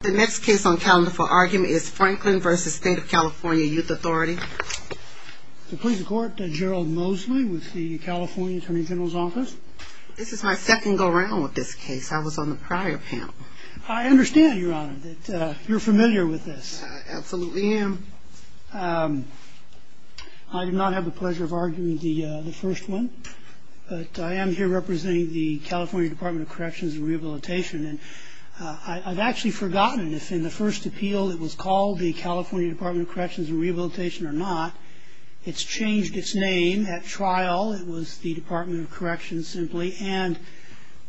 The next case on calendar for argument is Franklin v. State of California Youth Authority. The Police Department, Gerald Mosley with the California Attorney General's Office. This is my second go-round with this case. I was on the prior panel. I understand, Your Honor, that you're familiar with this. I absolutely am. I do not have the pleasure of arguing the first one, but I am here representing the California Department of Corrections and Rehabilitation. And I've actually forgotten if in the first appeal it was called the California Department of Corrections and Rehabilitation or not. It's changed its name. At trial, it was the Department of Corrections, simply. And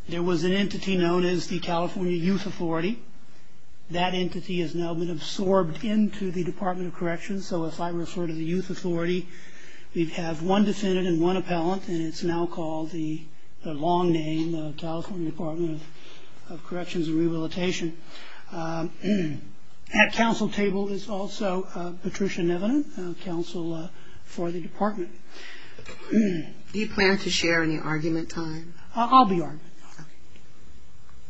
there was an entity known as the California Youth Authority. That entity has now been absorbed into the Department of Corrections. So if I refer to the Youth Authority, we'd have one defendant and one appellant, and it's now called the long name, the California Department of Corrections and Rehabilitation. At counsel table is also Patricia Nevinen, counsel for the department. Do you plan to share any argument time? I'll be argument.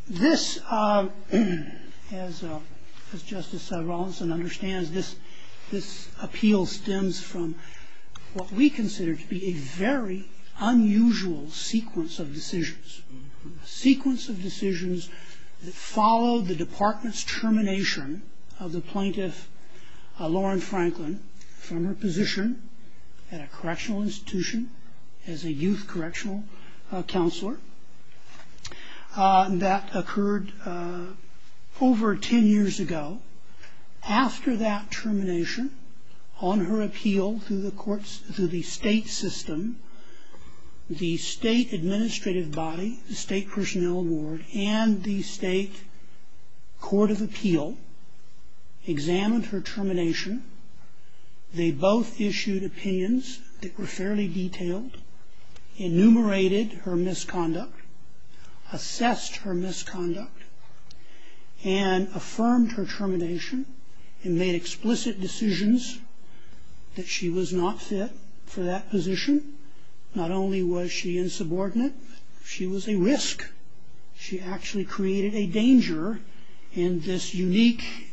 This, as Justice Rawlinson understands, this appeal stems from what we consider to be a very unusual sequence of decisions, a sequence of decisions that follow the department's termination of the plaintiff, Lauren Franklin, from her position at a correctional institution as a youth correctional counselor. That occurred over 10 years ago. After that termination, on her appeal to the courts, to the state system, the state administrative body, the state personnel board, and the state court of appeal examined her termination. They both issued opinions that were fairly detailed, enumerated her misconduct, assessed her misconduct, and affirmed her termination, and made explicit decisions that she was not fit for that position. Not only was she insubordinate, she was a risk. She actually created a danger in this unique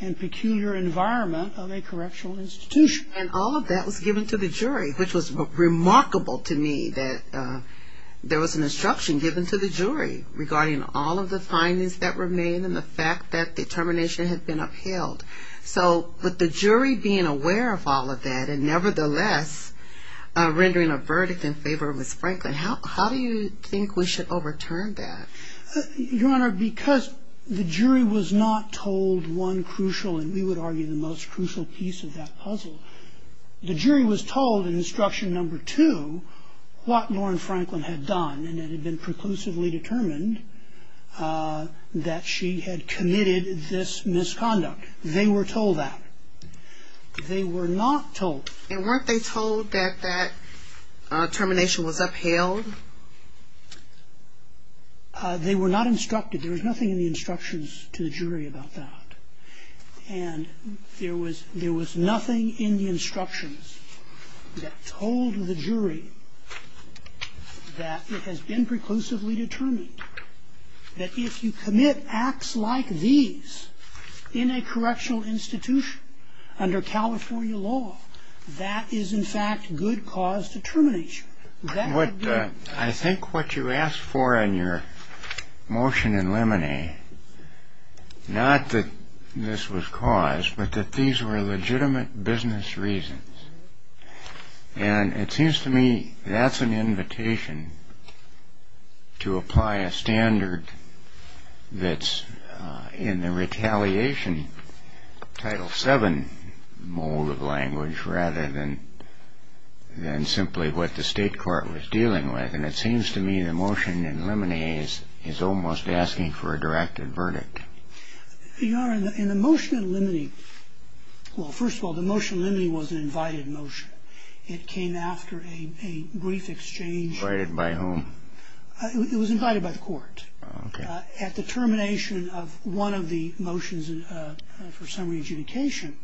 and peculiar environment of a correctional institution. And all of that was given to the jury, which was remarkable to me, that there was an instruction given to the jury regarding all of the findings that were made and the fact that the termination had been upheld. So with the jury being aware of all of that and nevertheless rendering a verdict in favor of Ms. Franklin, how do you think we should overturn that? Your Honor, because the jury was not told one crucial, and we would argue the most crucial piece of that puzzle, the jury was told in instruction number two what Lauren Franklin had done and had been preclusively determined that she had committed this misconduct. They were told that. They were not told. And weren't they told that that termination was upheld? They were not instructed. There was nothing in the instructions to the jury about that. And there was nothing in the instructions that told the jury that it has been preclusively determined that if you commit acts like these in a correctional institution under California law, that is, in fact, good cause to terminate you. I think what you asked for in your motion in limine, not that this was cause, but that these were legitimate business reasons. And it seems to me that's an invitation to apply a standard that's in the retaliation Title VII mold of language rather than simply what the state court was dealing with. And it seems to me the motion in limine is almost asking for a directed verdict. Your Honor, in the motion in limine, well, first of all, the motion in limine was an invited motion. It came after a brief exchange. Invited by whom? It was invited by the court. Okay. At the termination of one of the motions for summary adjudication,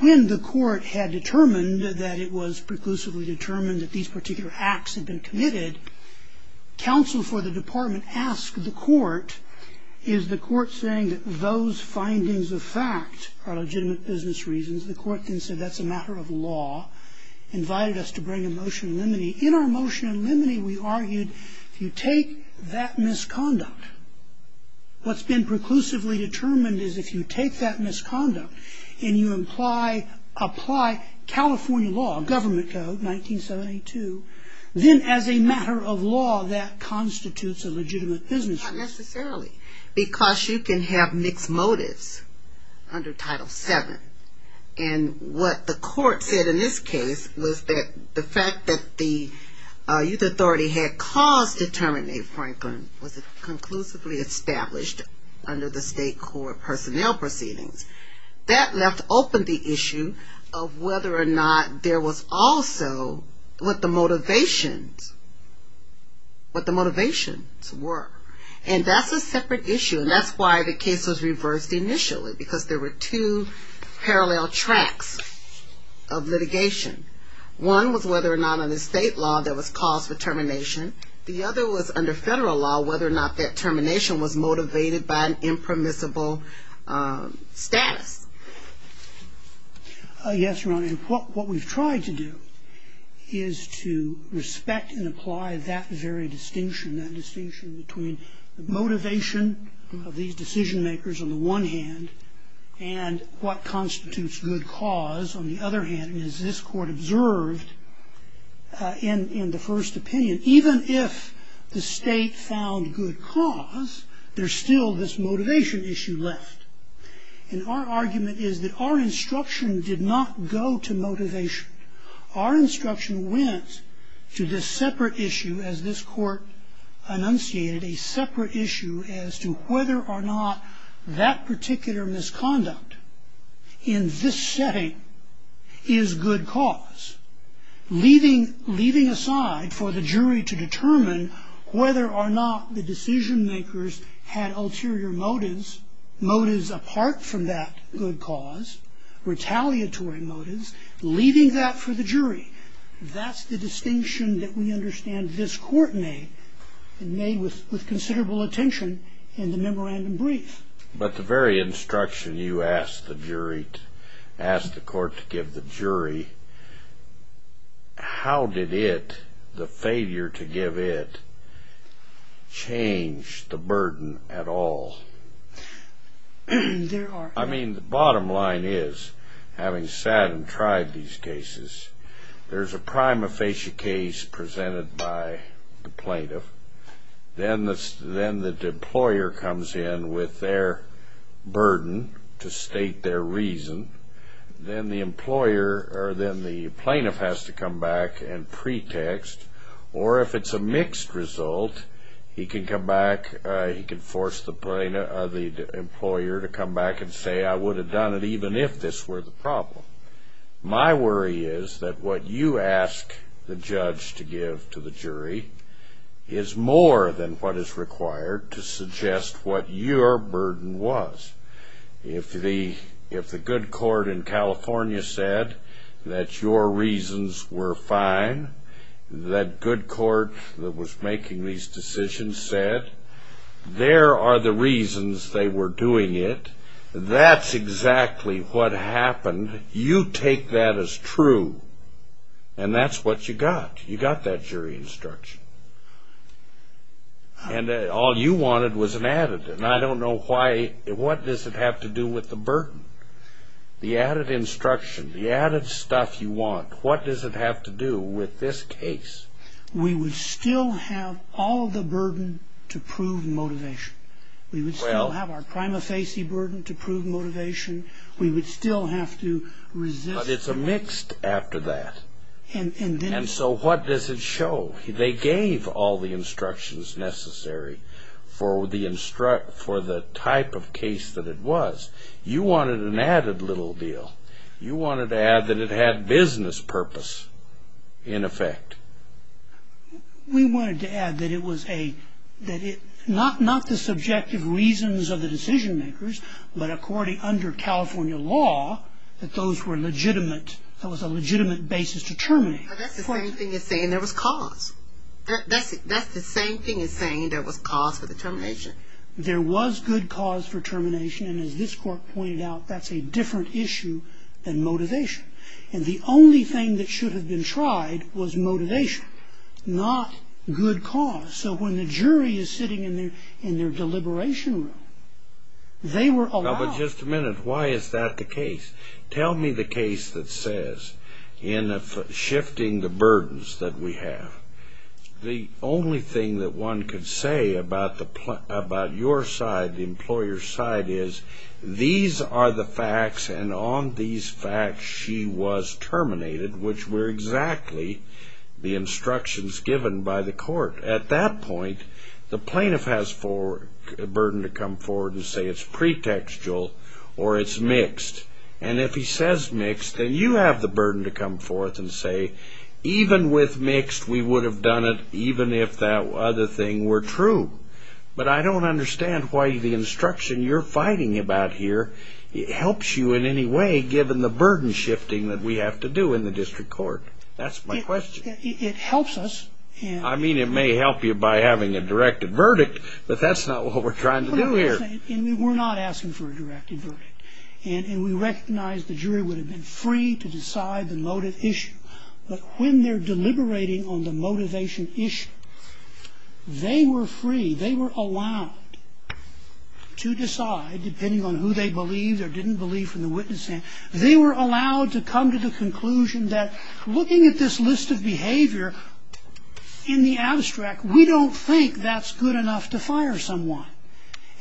when the court had determined that it was preclusively determined that these particular acts had been committed, counsel for the department asked the court, is the court saying that those findings of fact are legitimate business reasons? The court then said that's a matter of law, invited us to bring a motion in limine. In our motion in limine, we argued if you take that misconduct, what's been preclusively determined is if you take that misconduct and you apply California law, government code 1972, then as a matter of law that constitutes a legitimate business reason. Not necessarily. Because you can have mixed motives under Title VII. And what the court said in this case was that the fact that the youth authority had caused the termination of Franklin was conclusively established under the state court personnel proceedings. That left open the issue of whether or not there was also what the motivations were. And that's a separate issue. And that's why the case was reversed initially. Because there were two parallel tracks of litigation. One was whether or not under state law there was cause for termination. The other was under federal law, whether or not that termination was motivated by an impermissible status. Yes, Your Honor. And what we've tried to do is to respect and apply that very distinction, that distinction between the motivation of these decision makers on the one hand and what constitutes good cause on the other hand. And as this court observed in the first opinion, even if the state found good cause, there's still this motivation issue left. And our argument is that our instruction did not go to motivation. Our instruction went to this separate issue, as this court enunciated, a separate issue as to whether or not that particular misconduct in this setting is good cause, leaving aside for the jury to determine whether or not the decision makers had ulterior motives, motives apart from that good cause, retaliatory motives, leaving that for the jury. That's the distinction that we understand this court made, made with considerable attention in the memorandum brief. But the very instruction you asked the jury, asked the court to give the jury, how did it, the failure to give it, change the burden at all? I mean, the bottom line is, having sat and tried these cases, there's a prima facie case presented by the plaintiff. Then the employer comes in with their burden to state their reason. Then the employer or then the plaintiff has to come back and pretext. Or if it's a mixed result, he can come back, he can force the employer to come back and say, I would have done it even if this were the problem. My worry is that what you ask the judge to give to the jury is more than what is required to suggest what your burden was. If the good court in California said that your reasons were fine, that good court that was making these decisions said there are the reasons they were doing it, that's exactly what happened. You take that as true, and that's what you got. You got that jury instruction. And all you wanted was an added. And I don't know why, what does it have to do with the burden? The added instruction, the added stuff you want, what does it have to do with this case? We would still have all the burden to prove motivation. We would still have our prima facie burden to prove motivation. We would still have to resist. But it's a mixed after that. And so what does it show? They gave all the instructions necessary for the type of case that it was. You wanted an added little deal. You wanted to add that it had business purpose in effect. We wanted to add that it was a, not the subjective reasons of the decision makers, but according under California law, that those were legitimate, that was a legitimate basis to terminate. That's the same thing as saying there was cause. That's the same thing as saying there was cause for the termination. There was good cause for termination. And as this court pointed out, that's a different issue than motivation. And the only thing that should have been tried was motivation, not good cause. So when the jury is sitting in their deliberation room, they were allowed. Now, but just a minute. Why is that the case? Tell me the case that says, in shifting the burdens that we have, the only thing that one could say about your side, the employer's side, is these are the facts, and on these facts, she was terminated, which were exactly the instructions given by the court. At that point, the plaintiff has a burden to come forward and say it's pretextual or it's mixed. And if he says mixed, then you have the burden to come forth and say, even with mixed, we would have done it even if that other thing were true. But I don't understand why the instruction you're fighting about here helps you in any way given the burden shifting that we have to do in the district court. That's my question. It helps us. I mean, it may help you by having a directed verdict, but that's not what we're trying to do here. We're not asking for a directed verdict. And we recognize the jury would have been free to decide the motive issue. But when they're deliberating on the motivation issue, they were free, they were allowed to decide, depending on who they believed or didn't believe from the witness stand, they were allowed to come to the conclusion that looking at this list of behavior in the abstract, we don't think that's good enough to fire someone.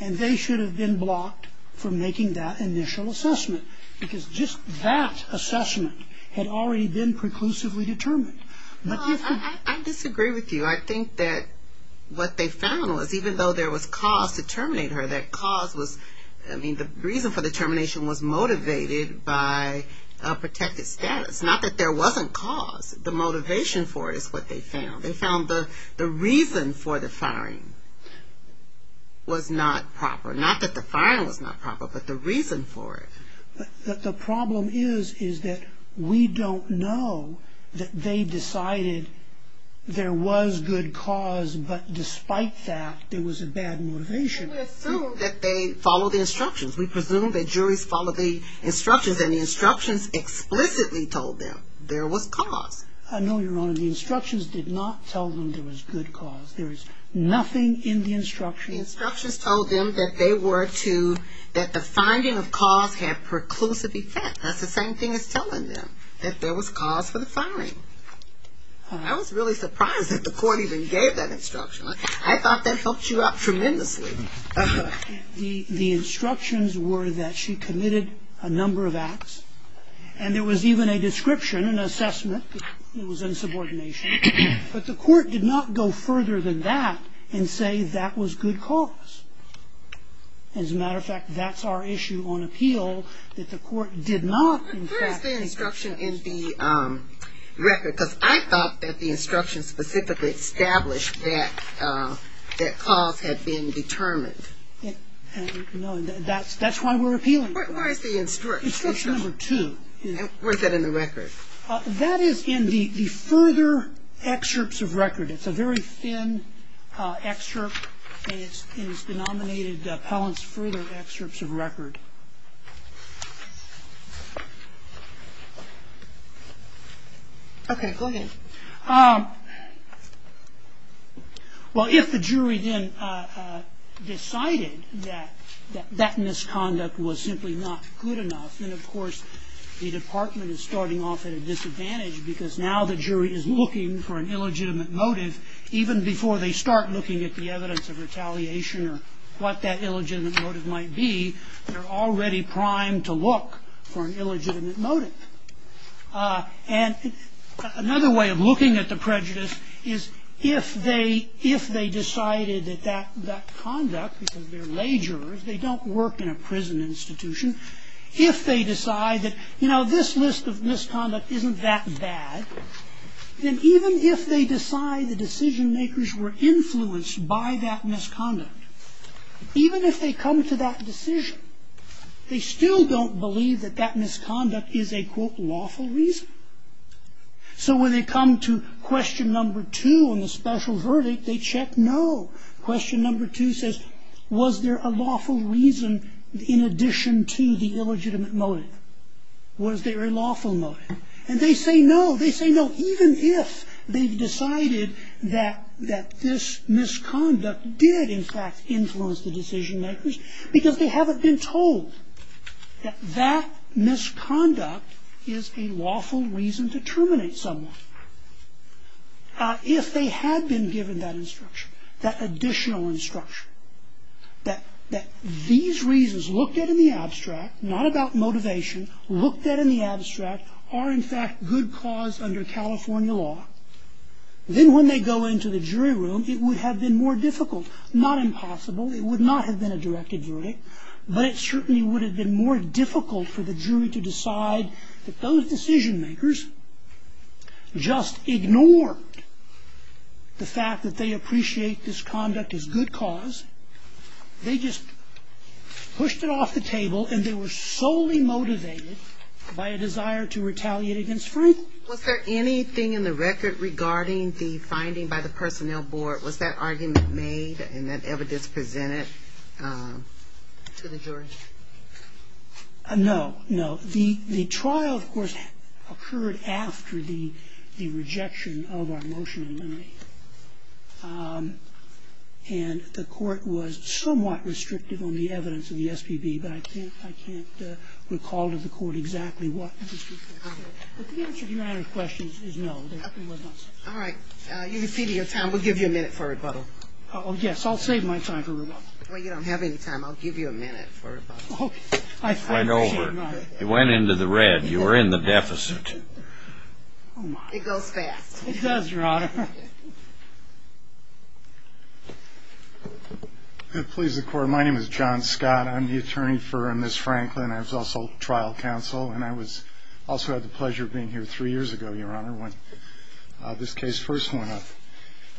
And they should have been blocked from making that initial assessment because just that assessment had already been preclusively determined. I disagree with you. I think that what they found was even though there was cause to terminate her, that cause was, I mean, the reason for the termination was motivated by a protected status. Not that there wasn't cause. The motivation for it is what they found. They found the reason for the firing was not proper. Not that the firing was not proper, but the reason for it. But the problem is, is that we don't know that they decided there was good cause, but despite that, there was a bad motivation. We assume that they followed the instructions. We presume that juries followed the instructions, and the instructions explicitly told them there was cause. I know, Your Honor, the instructions did not tell them there was good cause. There is nothing in the instructions. The instructions told them that they were to, that the finding of cause had preclusive effect. That's the same thing as telling them that there was cause for the firing. I was really surprised that the court even gave that instruction. I thought that helped you out tremendously. The instructions were that she committed a number of acts, and there was even a description, an assessment, it was insubordination. But the court did not go further than that and say that was good cause. As a matter of fact, that's our issue on appeal, that the court did not. Where is the instruction in the record? Because I thought that the instruction specifically established that cause had been determined. No, that's why we're appealing it. Where is the instruction? Instruction number two. Where is that in the record? That is in the further excerpts of record. It's a very thin excerpt, and it's denominated Pellant's further excerpts of record. Okay, go ahead. Well, if the jury then decided that that misconduct was simply not good enough, then of course the department is starting off at a disadvantage because now the jury is looking for an illegitimate motive even before they start looking at the evidence of retaliation or what that illegitimate motive might be. They're already primed to look for an illegitimate motive. And another way of looking at the prejudice is if they decided that that conduct, because they're lay jurors, they don't work in a prison institution, if they decide that, you know, this list of misconduct isn't that bad, then even if they decide the decision-makers were influenced by that misconduct, even if they come to that decision, they still don't believe that that misconduct is a, quote, lawful reason. So when they come to question number two on the special verdict, they check no. Question number two says, was there a lawful reason in addition to the illegitimate motive? Was there a lawful motive? And they say no. They say no, even if they've decided that this misconduct did in fact influence the decision-makers because they haven't been told that that misconduct is a lawful reason to terminate someone. If they had been given that instruction, that additional instruction, that these reasons looked at in the abstract, not about motivation, looked at in the abstract are in fact good cause under California law, then when they go into the jury room, it would have been more difficult. Not impossible. It would not have been a directed verdict. But it certainly would have been more difficult for the jury to decide that those decision-makers just ignored the fact that they appreciate this conduct as good cause. They just pushed it off the table and they were solely motivated by a desire to retaliate against Frank. Was there anything in the record regarding the finding by the personnel board? Was that argument made and that evidence presented to the jury? No, no. The trial, of course, occurred after the rejection of our motion in memory. And the court was somewhat restrictive on the evidence of the SBB, but I can't recall to the court exactly what was restricted. But the answer to your question is no. All right. You've exceeded your time. We'll give you a minute for rebuttal. Oh, yes. I'll save my time for rebuttal. Well, you don't have any time. I'll give you a minute for rebuttal. Right over. You went into the red. You were in the deficit. It goes fast. It does, Your Honor. Please, the court. My name is John Scott. I'm the attorney for Ms. Franklin. I was also trial counsel and I also had the pleasure of being here three years ago, Your Honor, when this case first went up.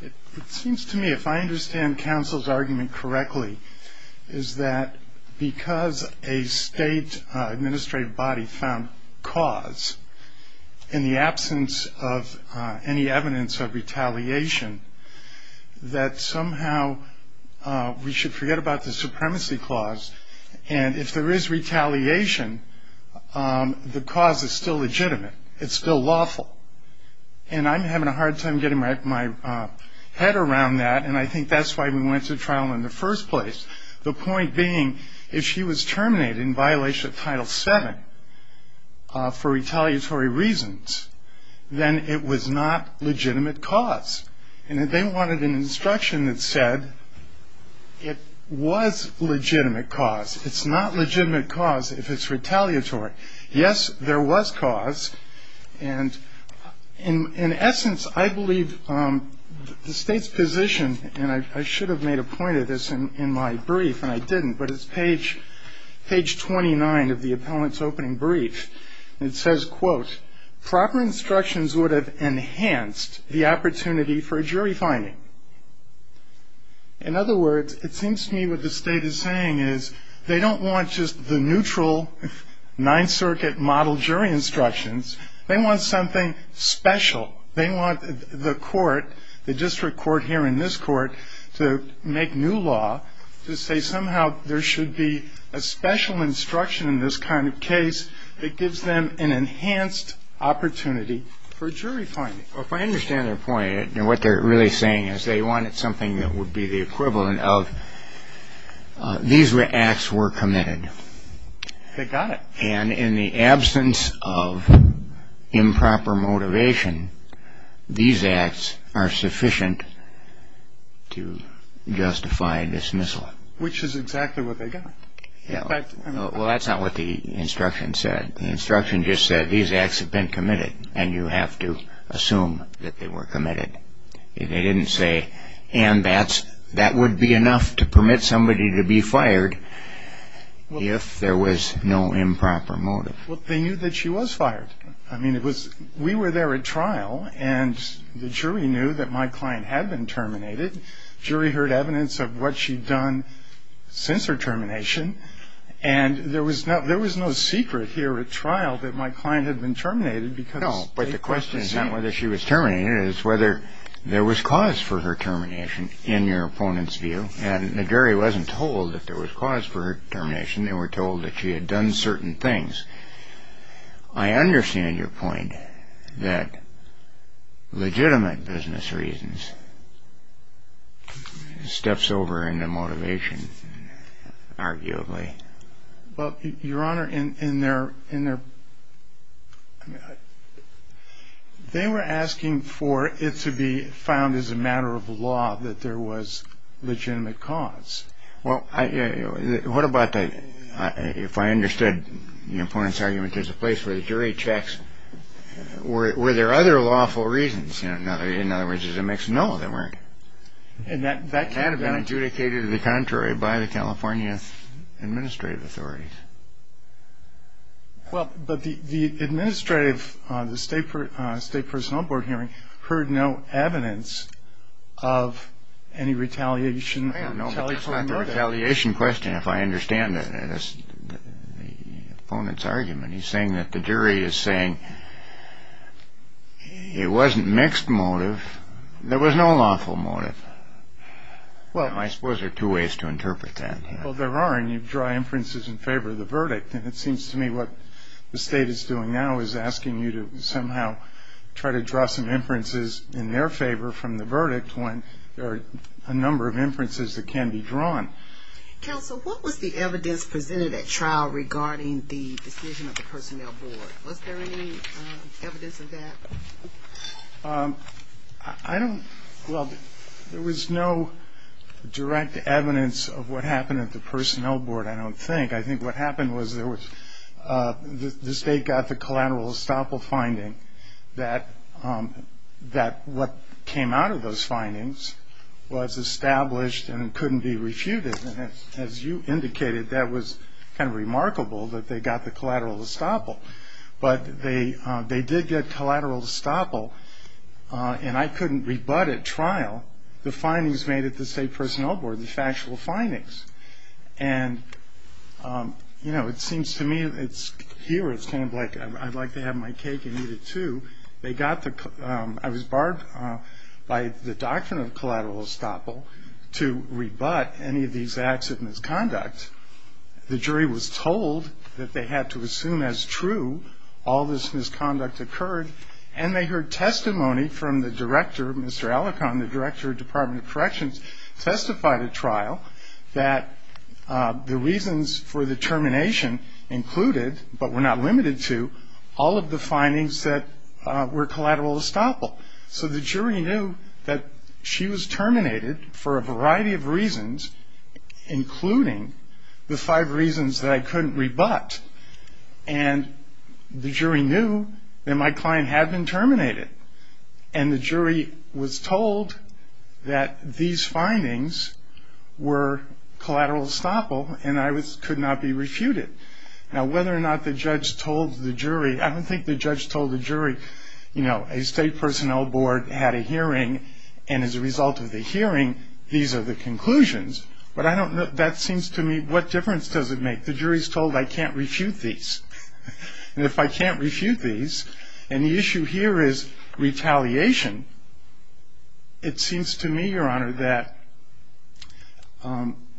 It seems to me, if I understand counsel's argument correctly, is that because a state administrative body found cause in the absence of any evidence of retaliation, that somehow we should forget about the supremacy clause. And if there is retaliation, the cause is still legitimate. It's still lawful. And I'm having a hard time getting my head around that, and I think that's why we went to trial in the first place. The point being, if she was terminated in violation of Title VII for retaliatory reasons, then it was not legitimate cause. And they wanted an instruction that said it was legitimate cause. It's not legitimate cause if it's retaliatory. Yes, there was cause, and in essence, I believe the state's position, and I should have made a point of this in my brief, and I didn't, but it's page 29 of the appellant's opening brief. It says, quote, Proper instructions would have enhanced the opportunity for a jury finding. In other words, it seems to me what the state is saying is they don't want just the neutral Ninth Circuit model jury instructions. They want something special. They want the court, the district court here in this court, to make new law to say somehow there should be a special instruction in this kind of case that gives them an enhanced opportunity for a jury finding. Well, if I understand their point, what they're really saying is they wanted something that would be the equivalent of these acts were committed. They got it. And in the absence of improper motivation, these acts are sufficient to justify dismissal. Which is exactly what they got. Well, that's not what the instruction said. The instruction just said these acts have been committed, and you have to assume that they were committed. They didn't say, and that would be enough to permit somebody to be fired if there was no improper motive. Well, they knew that she was fired. I mean, we were there at trial, and the jury knew that my client had been terminated. The jury heard evidence of what she'd done since her termination, and there was no secret here at trial that my client had been terminated. No, but the question is not whether she was terminated. It's whether there was cause for her termination in your opponent's view. And the jury wasn't told that there was cause for her termination. They were told that she had done certain things. I understand your point that legitimate business reasons steps over into motivation, arguably. Well, Your Honor, they were asking for it to be found as a matter of law that there was legitimate cause. Well, what about if I understood the opponent's argument, there's a place where the jury checks. Were there other lawful reasons? In other words, is it a mixed? No, there weren't. That had been adjudicated to the contrary by the California administrative authorities. Well, but the administrative, the State Personnel Board hearing heard no evidence of any retaliation. No, but it's not the retaliation question if I understand the opponent's argument. He's saying that the jury is saying it wasn't mixed motive. There was no lawful motive. I suppose there are two ways to interpret that. Well, there are, and you draw inferences in favor of the verdict. And it seems to me what the State is doing now is asking you to somehow try to draw some inferences in their favor from the verdict when there are a number of inferences that can be drawn. Counsel, what was the evidence presented at trial regarding the decision of the Personnel Board? Was there any evidence of that? I don't, well, there was no direct evidence of what happened at the Personnel Board, I don't think. I think what happened was the State got the collateral estoppel finding that what came out of those findings was established and couldn't be refuted. And as you indicated, that was kind of remarkable that they got the collateral estoppel. But they did get collateral estoppel, and I couldn't rebut at trial the findings made at the State Personnel Board, the factual findings. And, you know, it seems to me here it's kind of like I'd like to have my cake and eat it too. They got the, I was barred by the doctrine of collateral estoppel to rebut any of these acts of misconduct. The jury was told that they had to assume as true all this misconduct occurred, and they heard testimony from the director, Mr. Alicorn, the director of Department of Corrections, testified at trial that the reasons for the termination included, but were not limited to, all of the findings that were collateral estoppel. So the jury knew that she was terminated for a variety of reasons, including the five reasons that I couldn't rebut. And the jury knew that my client had been terminated. And the jury was told that these findings were collateral estoppel, and I could not be refuted. Now, whether or not the judge told the jury, I don't think the judge told the jury, you know, a State Personnel Board had a hearing, and as a result of the hearing, these are the conclusions. But I don't know, that seems to me, what difference does it make? The jury's told I can't refute these. And if I can't refute these, and the issue here is retaliation, it seems to me, Your Honor, that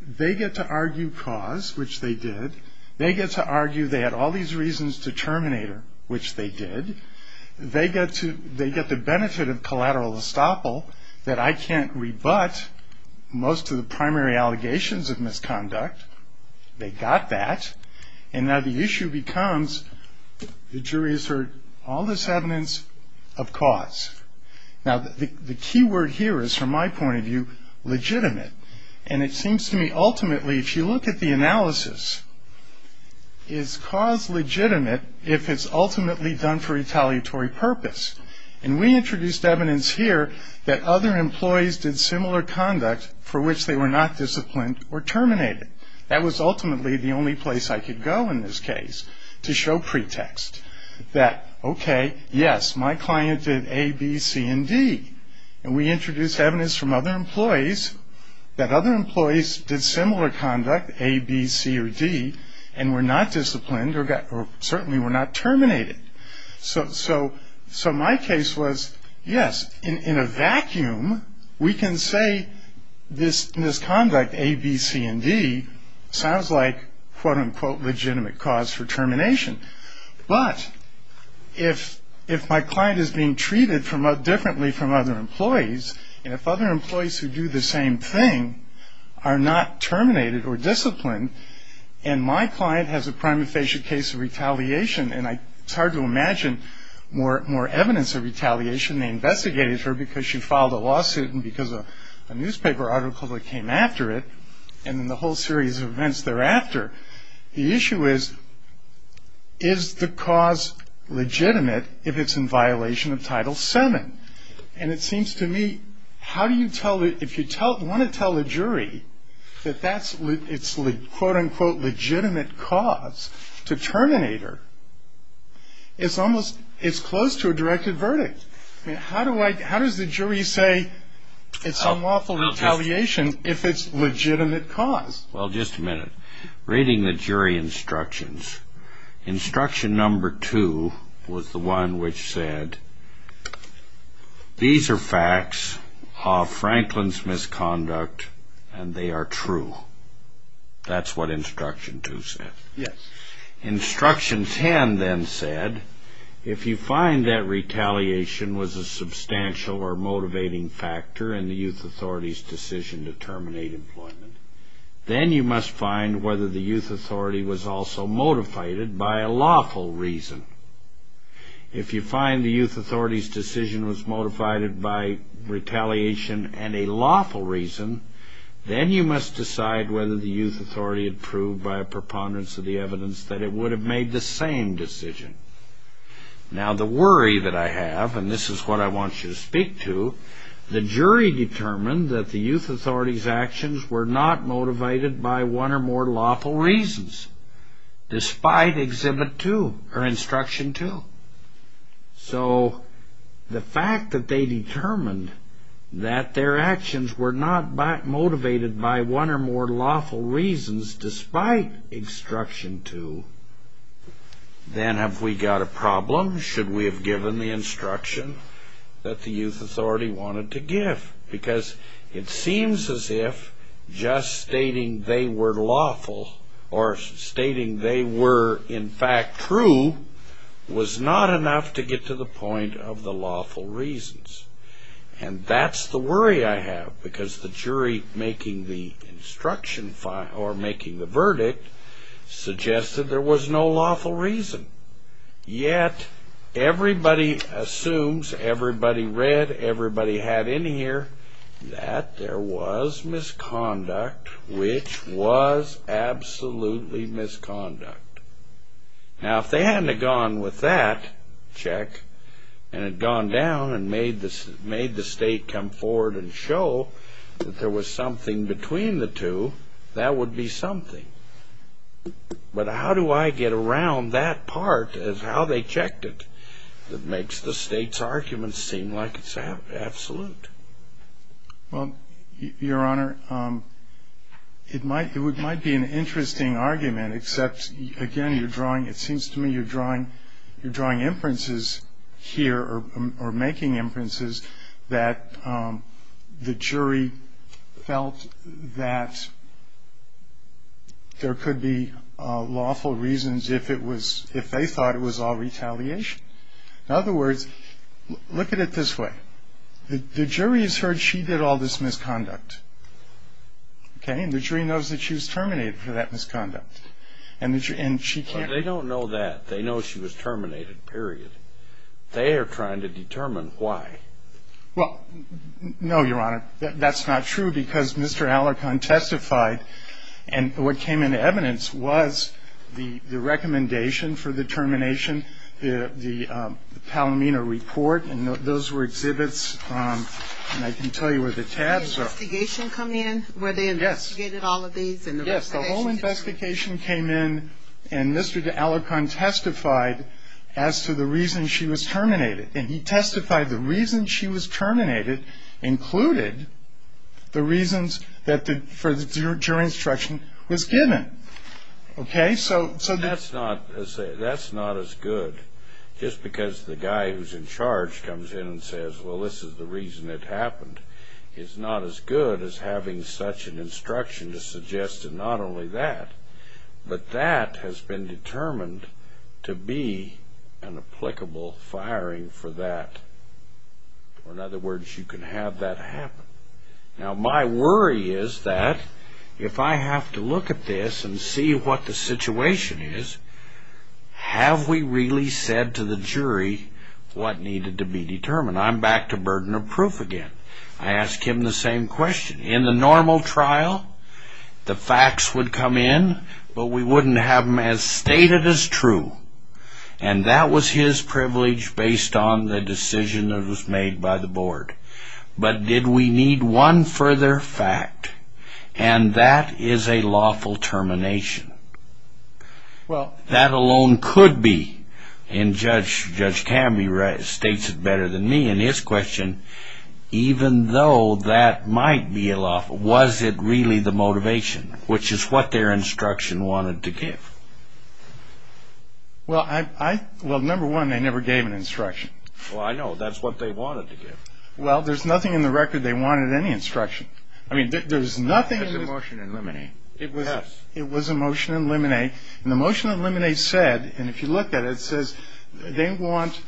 they get to argue cause, which they did. They get to argue they had all these reasons to terminate her, which they did. They get the benefit of collateral estoppel that I can't rebut most of the primary allegations of misconduct. They got that. And now the issue becomes, the jury has heard all this evidence of cause. Now, the key word here is, from my point of view, legitimate. And it seems to me, ultimately, if you look at the analysis, is cause legitimate if it's ultimately done for retaliatory purpose? And we introduced evidence here that other employees did similar conduct for which they were not disciplined or terminated. That was ultimately the only place I could go in this case to show pretext. That, okay, yes, my client did A, B, C, and D. And we introduced evidence from other employees that other employees did similar conduct, A, B, C, or D, and were not disciplined or certainly were not terminated. So my case was, yes, in a vacuum, we can say this misconduct, A, B, C, and D, sounds like, quote, unquote, legitimate cause for termination. But if my client is being treated differently from other employees, and if other employees who do the same thing are not terminated or disciplined, and my client has a prima facie case of retaliation, and it's hard to imagine more evidence of retaliation. They investigated her because she filed a lawsuit and because a newspaper article that came after it, and then the whole series of events thereafter. The issue is, is the cause legitimate if it's in violation of Title VII? And it seems to me, how do you tell, if you want to tell the jury that that's, it's, quote, unquote, legitimate cause to terminate her, it's almost, it's close to a directed verdict. How do I, how does the jury say it's unlawful retaliation if it's legitimate cause? Well, just a minute. Reading the jury instructions, instruction number two was the one which said, these are facts of Franklin's misconduct, and they are true. That's what instruction two said. Yes. Instruction ten then said, if you find that retaliation was a substantial or motivating factor in the youth authority's decision to terminate employment, then you must find whether the youth authority was also motivated by a lawful reason. If you find the youth authority's decision was motivated by retaliation and a lawful reason, then you must decide whether the youth authority had proved by a preponderance of the evidence that it would have made the same decision. Now, the worry that I have, and this is what I want you to speak to, the jury determined that the youth authority's actions were not motivated by one or more lawful reasons, despite exhibit two, or instruction two. So the fact that they determined that their actions were not motivated by one or more lawful reasons despite instruction two, then have we got a problem? Should we have given the instruction that the youth authority wanted to give? Because it seems as if just stating they were lawful, or stating they were in fact true, was not enough to get to the point of the lawful reasons. And that's the worry I have, because the jury making the instruction, or making the verdict, suggested there was no lawful reason. Yet, everybody assumes, everybody read, everybody had in here, that there was misconduct, which was absolutely misconduct. Now, if they hadn't have gone with that check, and had gone down and made the state come forward and show that there was something between the two, that would be something. But how do I get around that part of how they checked it that makes the state's arguments seem like it's absolute? Well, Your Honor, it might be an interesting argument, except, again, it seems to me you're drawing inferences here, or making inferences, that the jury felt that there could be lawful reasons if they thought it was all retaliation. In other words, look at it this way. The jury has heard she did all this misconduct, and the jury knows that she was terminated for that misconduct. They don't know that. They know she was terminated, period. They are trying to determine why. Well, no, Your Honor. That's not true, because Mr. Alarcon testified, and what came into evidence was the recommendation for the termination, the Palomino report, and those were exhibits, and I can tell you where the tabs are. Did the investigation come in, where they investigated all of these? Yes. Yes, the whole investigation came in, and Mr. Alarcon testified as to the reason she was terminated, and he testified the reason she was terminated included the reasons that the jury instruction was given. Okay? So that's not as good, just because the guy who's in charge comes in and says, well, this is the reason it happened. It's not as good as having such an instruction to suggest that not only that, but that has been determined to be an applicable firing for that. In other words, you can have that happen. Now, my worry is that if I have to look at this and see what the situation is, have we really said to the jury what needed to be determined? I'm back to burden of proof again. I ask him the same question. In the normal trial, the facts would come in, but we wouldn't have them as stated as true, and that was his privilege based on the decision that was made by the board. But did we need one further fact, and that is a lawful termination. Well, that alone could be, and Judge Cammey states it better than me in his question, even though that might be a lawful. Was it really the motivation, which is what their instruction wanted to give? Well, number one, they never gave an instruction. Well, I know. That's what they wanted to give. Well, there's nothing in the record they wanted any instruction. I mean, there's nothing in the record. It was a motion in limine. Yes. It was a motion in limine, and the motion in limine said, and if you look at it, they want,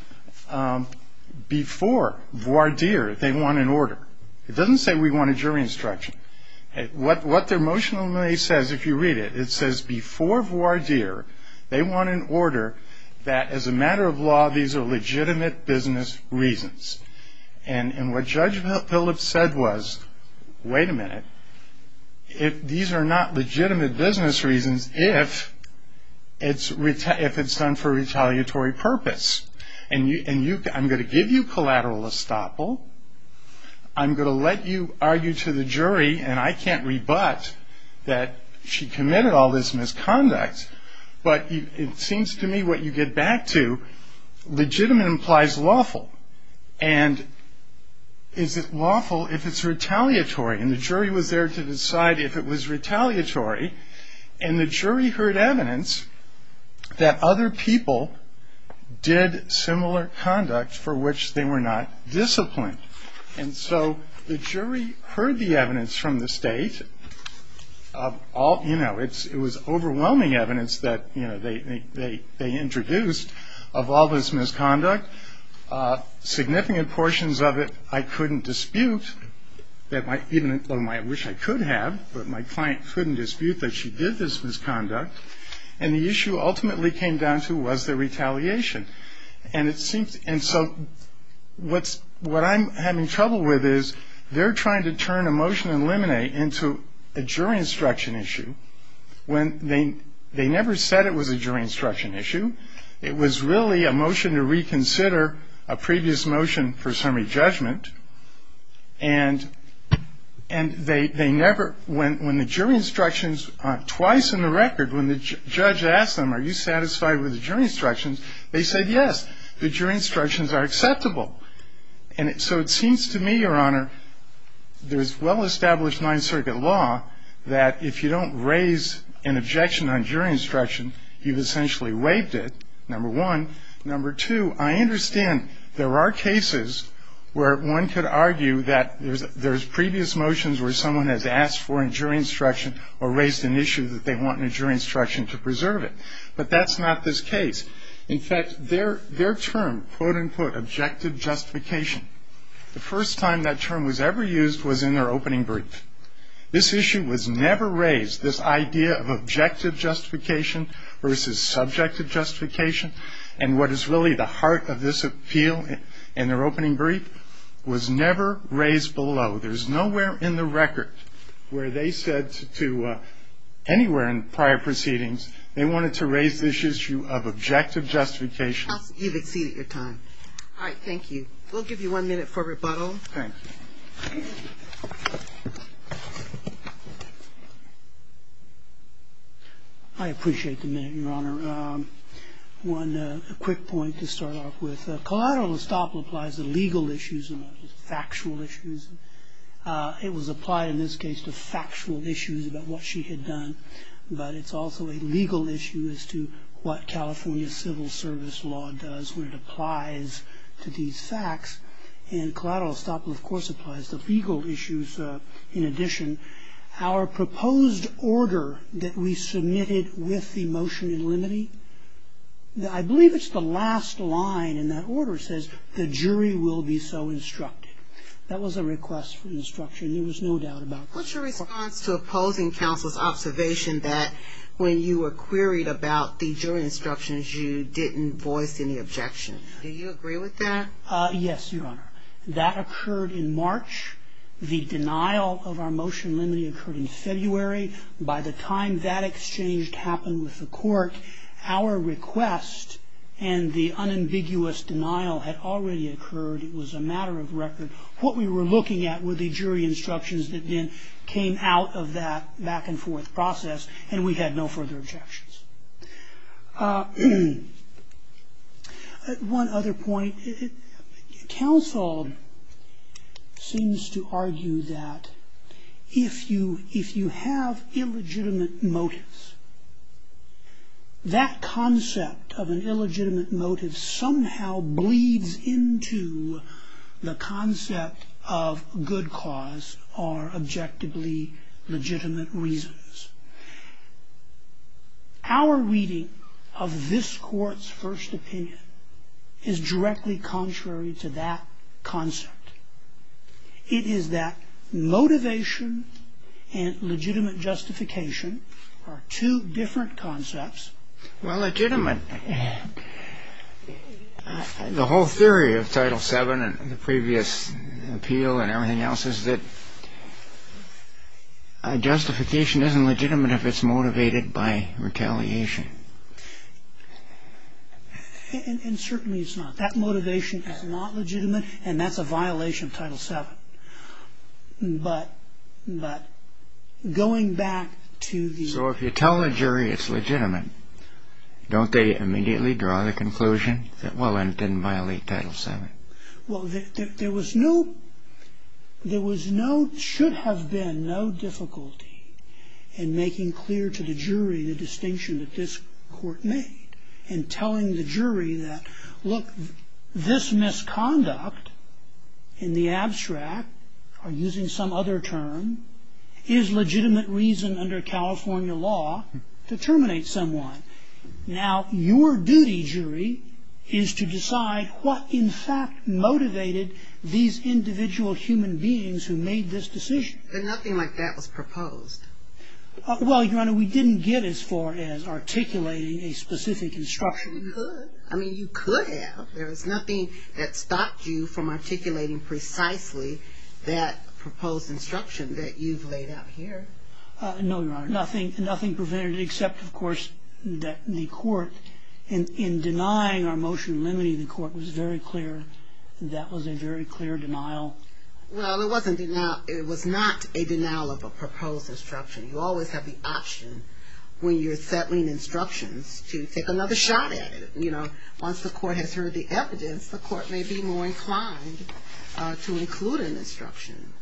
before voir dire, they want an order. It doesn't say we want a jury instruction. What their motion in limine says, if you read it, it says, before voir dire, they want an order that, as a matter of law, these are legitimate business reasons. And what Judge Phillips said was, wait a minute, these are not legitimate business reasons if it's done for retaliatory purpose. And I'm going to give you collateral estoppel. I'm going to let you argue to the jury, and I can't rebut that she committed all this misconduct, but it seems to me what you get back to, legitimate implies lawful. And is it lawful if it's retaliatory? And the jury was there to decide if it was retaliatory, and the jury heard evidence that other people did similar conduct for which they were not disciplined. And so the jury heard the evidence from the state of all, you know, it was overwhelming evidence that, you know, they introduced of all this misconduct. Significant portions of it I couldn't dispute, even though I wish I could have, but my client couldn't dispute that she did this misconduct. And the issue ultimately came down to was the retaliation. And so what I'm having trouble with is they're trying to turn a motion in limine into a jury instruction issue when they never said it was a jury instruction issue. It was really a motion to reconsider a previous motion for summary judgment. And they never, when the jury instructions twice in the record, when the judge asked them, are you satisfied with the jury instructions, they said, yes, the jury instructions are acceptable. And so it seems to me, Your Honor, there's well-established Ninth Circuit law that if you don't raise an objection on jury instruction, you've essentially waived it, number one. Number two, I understand there are cases where one could argue that there's previous motions where someone has asked for a jury instruction or raised an issue that they want a jury instruction to preserve it. But that's not this case. In fact, their term, quote, unquote, objective justification, the first time that term was ever used was in their opening brief. This issue was never raised, this idea of objective justification versus subjective justification. And what is really the heart of this appeal in their opening brief was never raised below. There's nowhere in the record where they said to anywhere in prior proceedings they wanted to raise this issue of objective justification. You've exceeded your time. All right. Thank you. We'll give you one minute for rebuttal. Thanks. I appreciate the minute, Your Honor. One quick point to start off with. Collateral estoppel applies to legal issues and factual issues. It was applied in this case to factual issues about what she had done, but it's also a legal issue as to what California civil service law does when it applies to these facts. And collateral estoppel, of course, applies to legal issues in addition. Our proposed order that we submitted with the motion in limine, I believe it's the last line in that order says the jury will be so instructed. That was a request for instruction. There was no doubt about that. What's your response to opposing counsel's observation that when you were queried about the jury instructions, you didn't voice any objection? Do you agree with that? Yes, Your Honor. That occurred in March. The denial of our motion in limine occurred in February. By the time that exchange happened with the court, our request and the unambiguous denial had already occurred. It was a matter of record. What we were looking at were the jury instructions that then came out of that back-and-forth process, and we had no further objections. One other point. Counsel seems to argue that if you have illegitimate motives, that concept of an illegitimate motive somehow bleeds into the concept of good cause or objectively legitimate reasons. Our reading of this Court's first opinion is directly contrary to that concept. It is that motivation and legitimate justification are two different concepts. Well, legitimate. The whole theory of Title VII and the previous appeal and everything else is that justification isn't legitimate if it's motivated by retaliation. And certainly it's not. That motivation is not legitimate, and that's a violation of Title VII. But going back to the... So if you tell the jury it's legitimate, don't they immediately draw the conclusion that, well, it didn't violate Title VII? Well, there was no... There should have been no difficulty in making clear to the jury the distinction that this Court made and telling the jury that, look, this misconduct in the abstract, or using some other term, is legitimate reason under California law to terminate someone. Now, your duty, jury, is to decide what, in fact, motivated these individual human beings who made this decision. But nothing like that was proposed. Well, Your Honor, we didn't get as far as articulating a specific instruction. You could. I mean, you could have. There was nothing that stopped you from articulating precisely that proposed instruction that you've laid out here. No, Your Honor. Nothing prevented it, except, of course, that the Court, in denying our motion limiting the Court, was very clear that that was a very clear denial. Well, it wasn't a denial. It was not a denial of a proposed instruction. You always have the option, when you're settling instructions, to take another shot at it. Once the Court has heard the evidence, the Court may be more inclined to include an instruction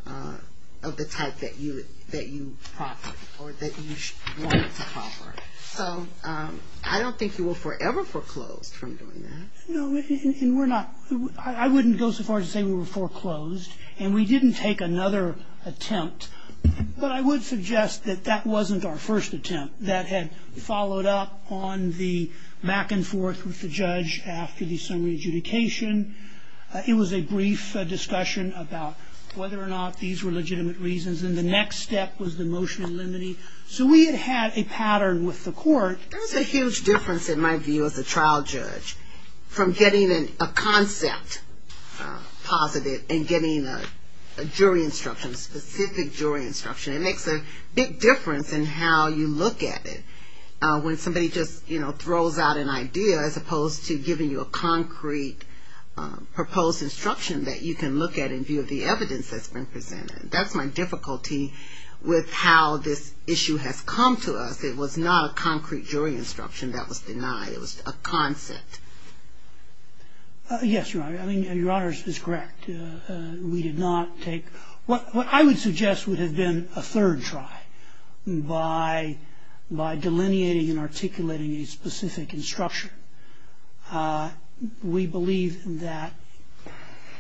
of the type that you proffered or that you wanted to proffer. So I don't think you were forever foreclosed from doing that. No, and we're not. I wouldn't go so far as to say we were foreclosed. And we didn't take another attempt. But I would suggest that that wasn't our first attempt. That had followed up on the back and forth with the judge after the summary adjudication. It was a brief discussion about whether or not these were legitimate reasons. And the next step was the motion limiting. So we had had a pattern with the Court. There's a huge difference, in my view, as a trial judge from getting a concept positive and getting a jury instruction, a specific jury instruction. It makes a big difference in how you look at it. When somebody just, you know, throws out an idea as opposed to giving you a concrete proposed instruction that you can look at in view of the evidence that's been presented. That's my difficulty with how this issue has come to us. It was not a concrete jury instruction that was denied. It was a concept. Yes, Your Honor. I mean, Your Honor is correct. We did not take what I would suggest would have been a third try. By delineating and articulating a specific instruction. We believe that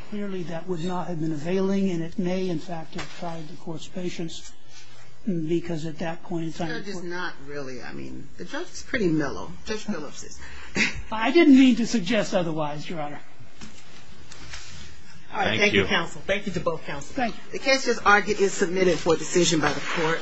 clearly that would not have been availing. And it may, in fact, have tried the Court's patience. Because at that point in time. The judge is not really, I mean, the judge is pretty mellow. I didn't mean to suggest otherwise, Your Honor. All right. Thank you, counsel. Thank you to both counsels. Thank you. The cases are getting submitted for decision by the Court.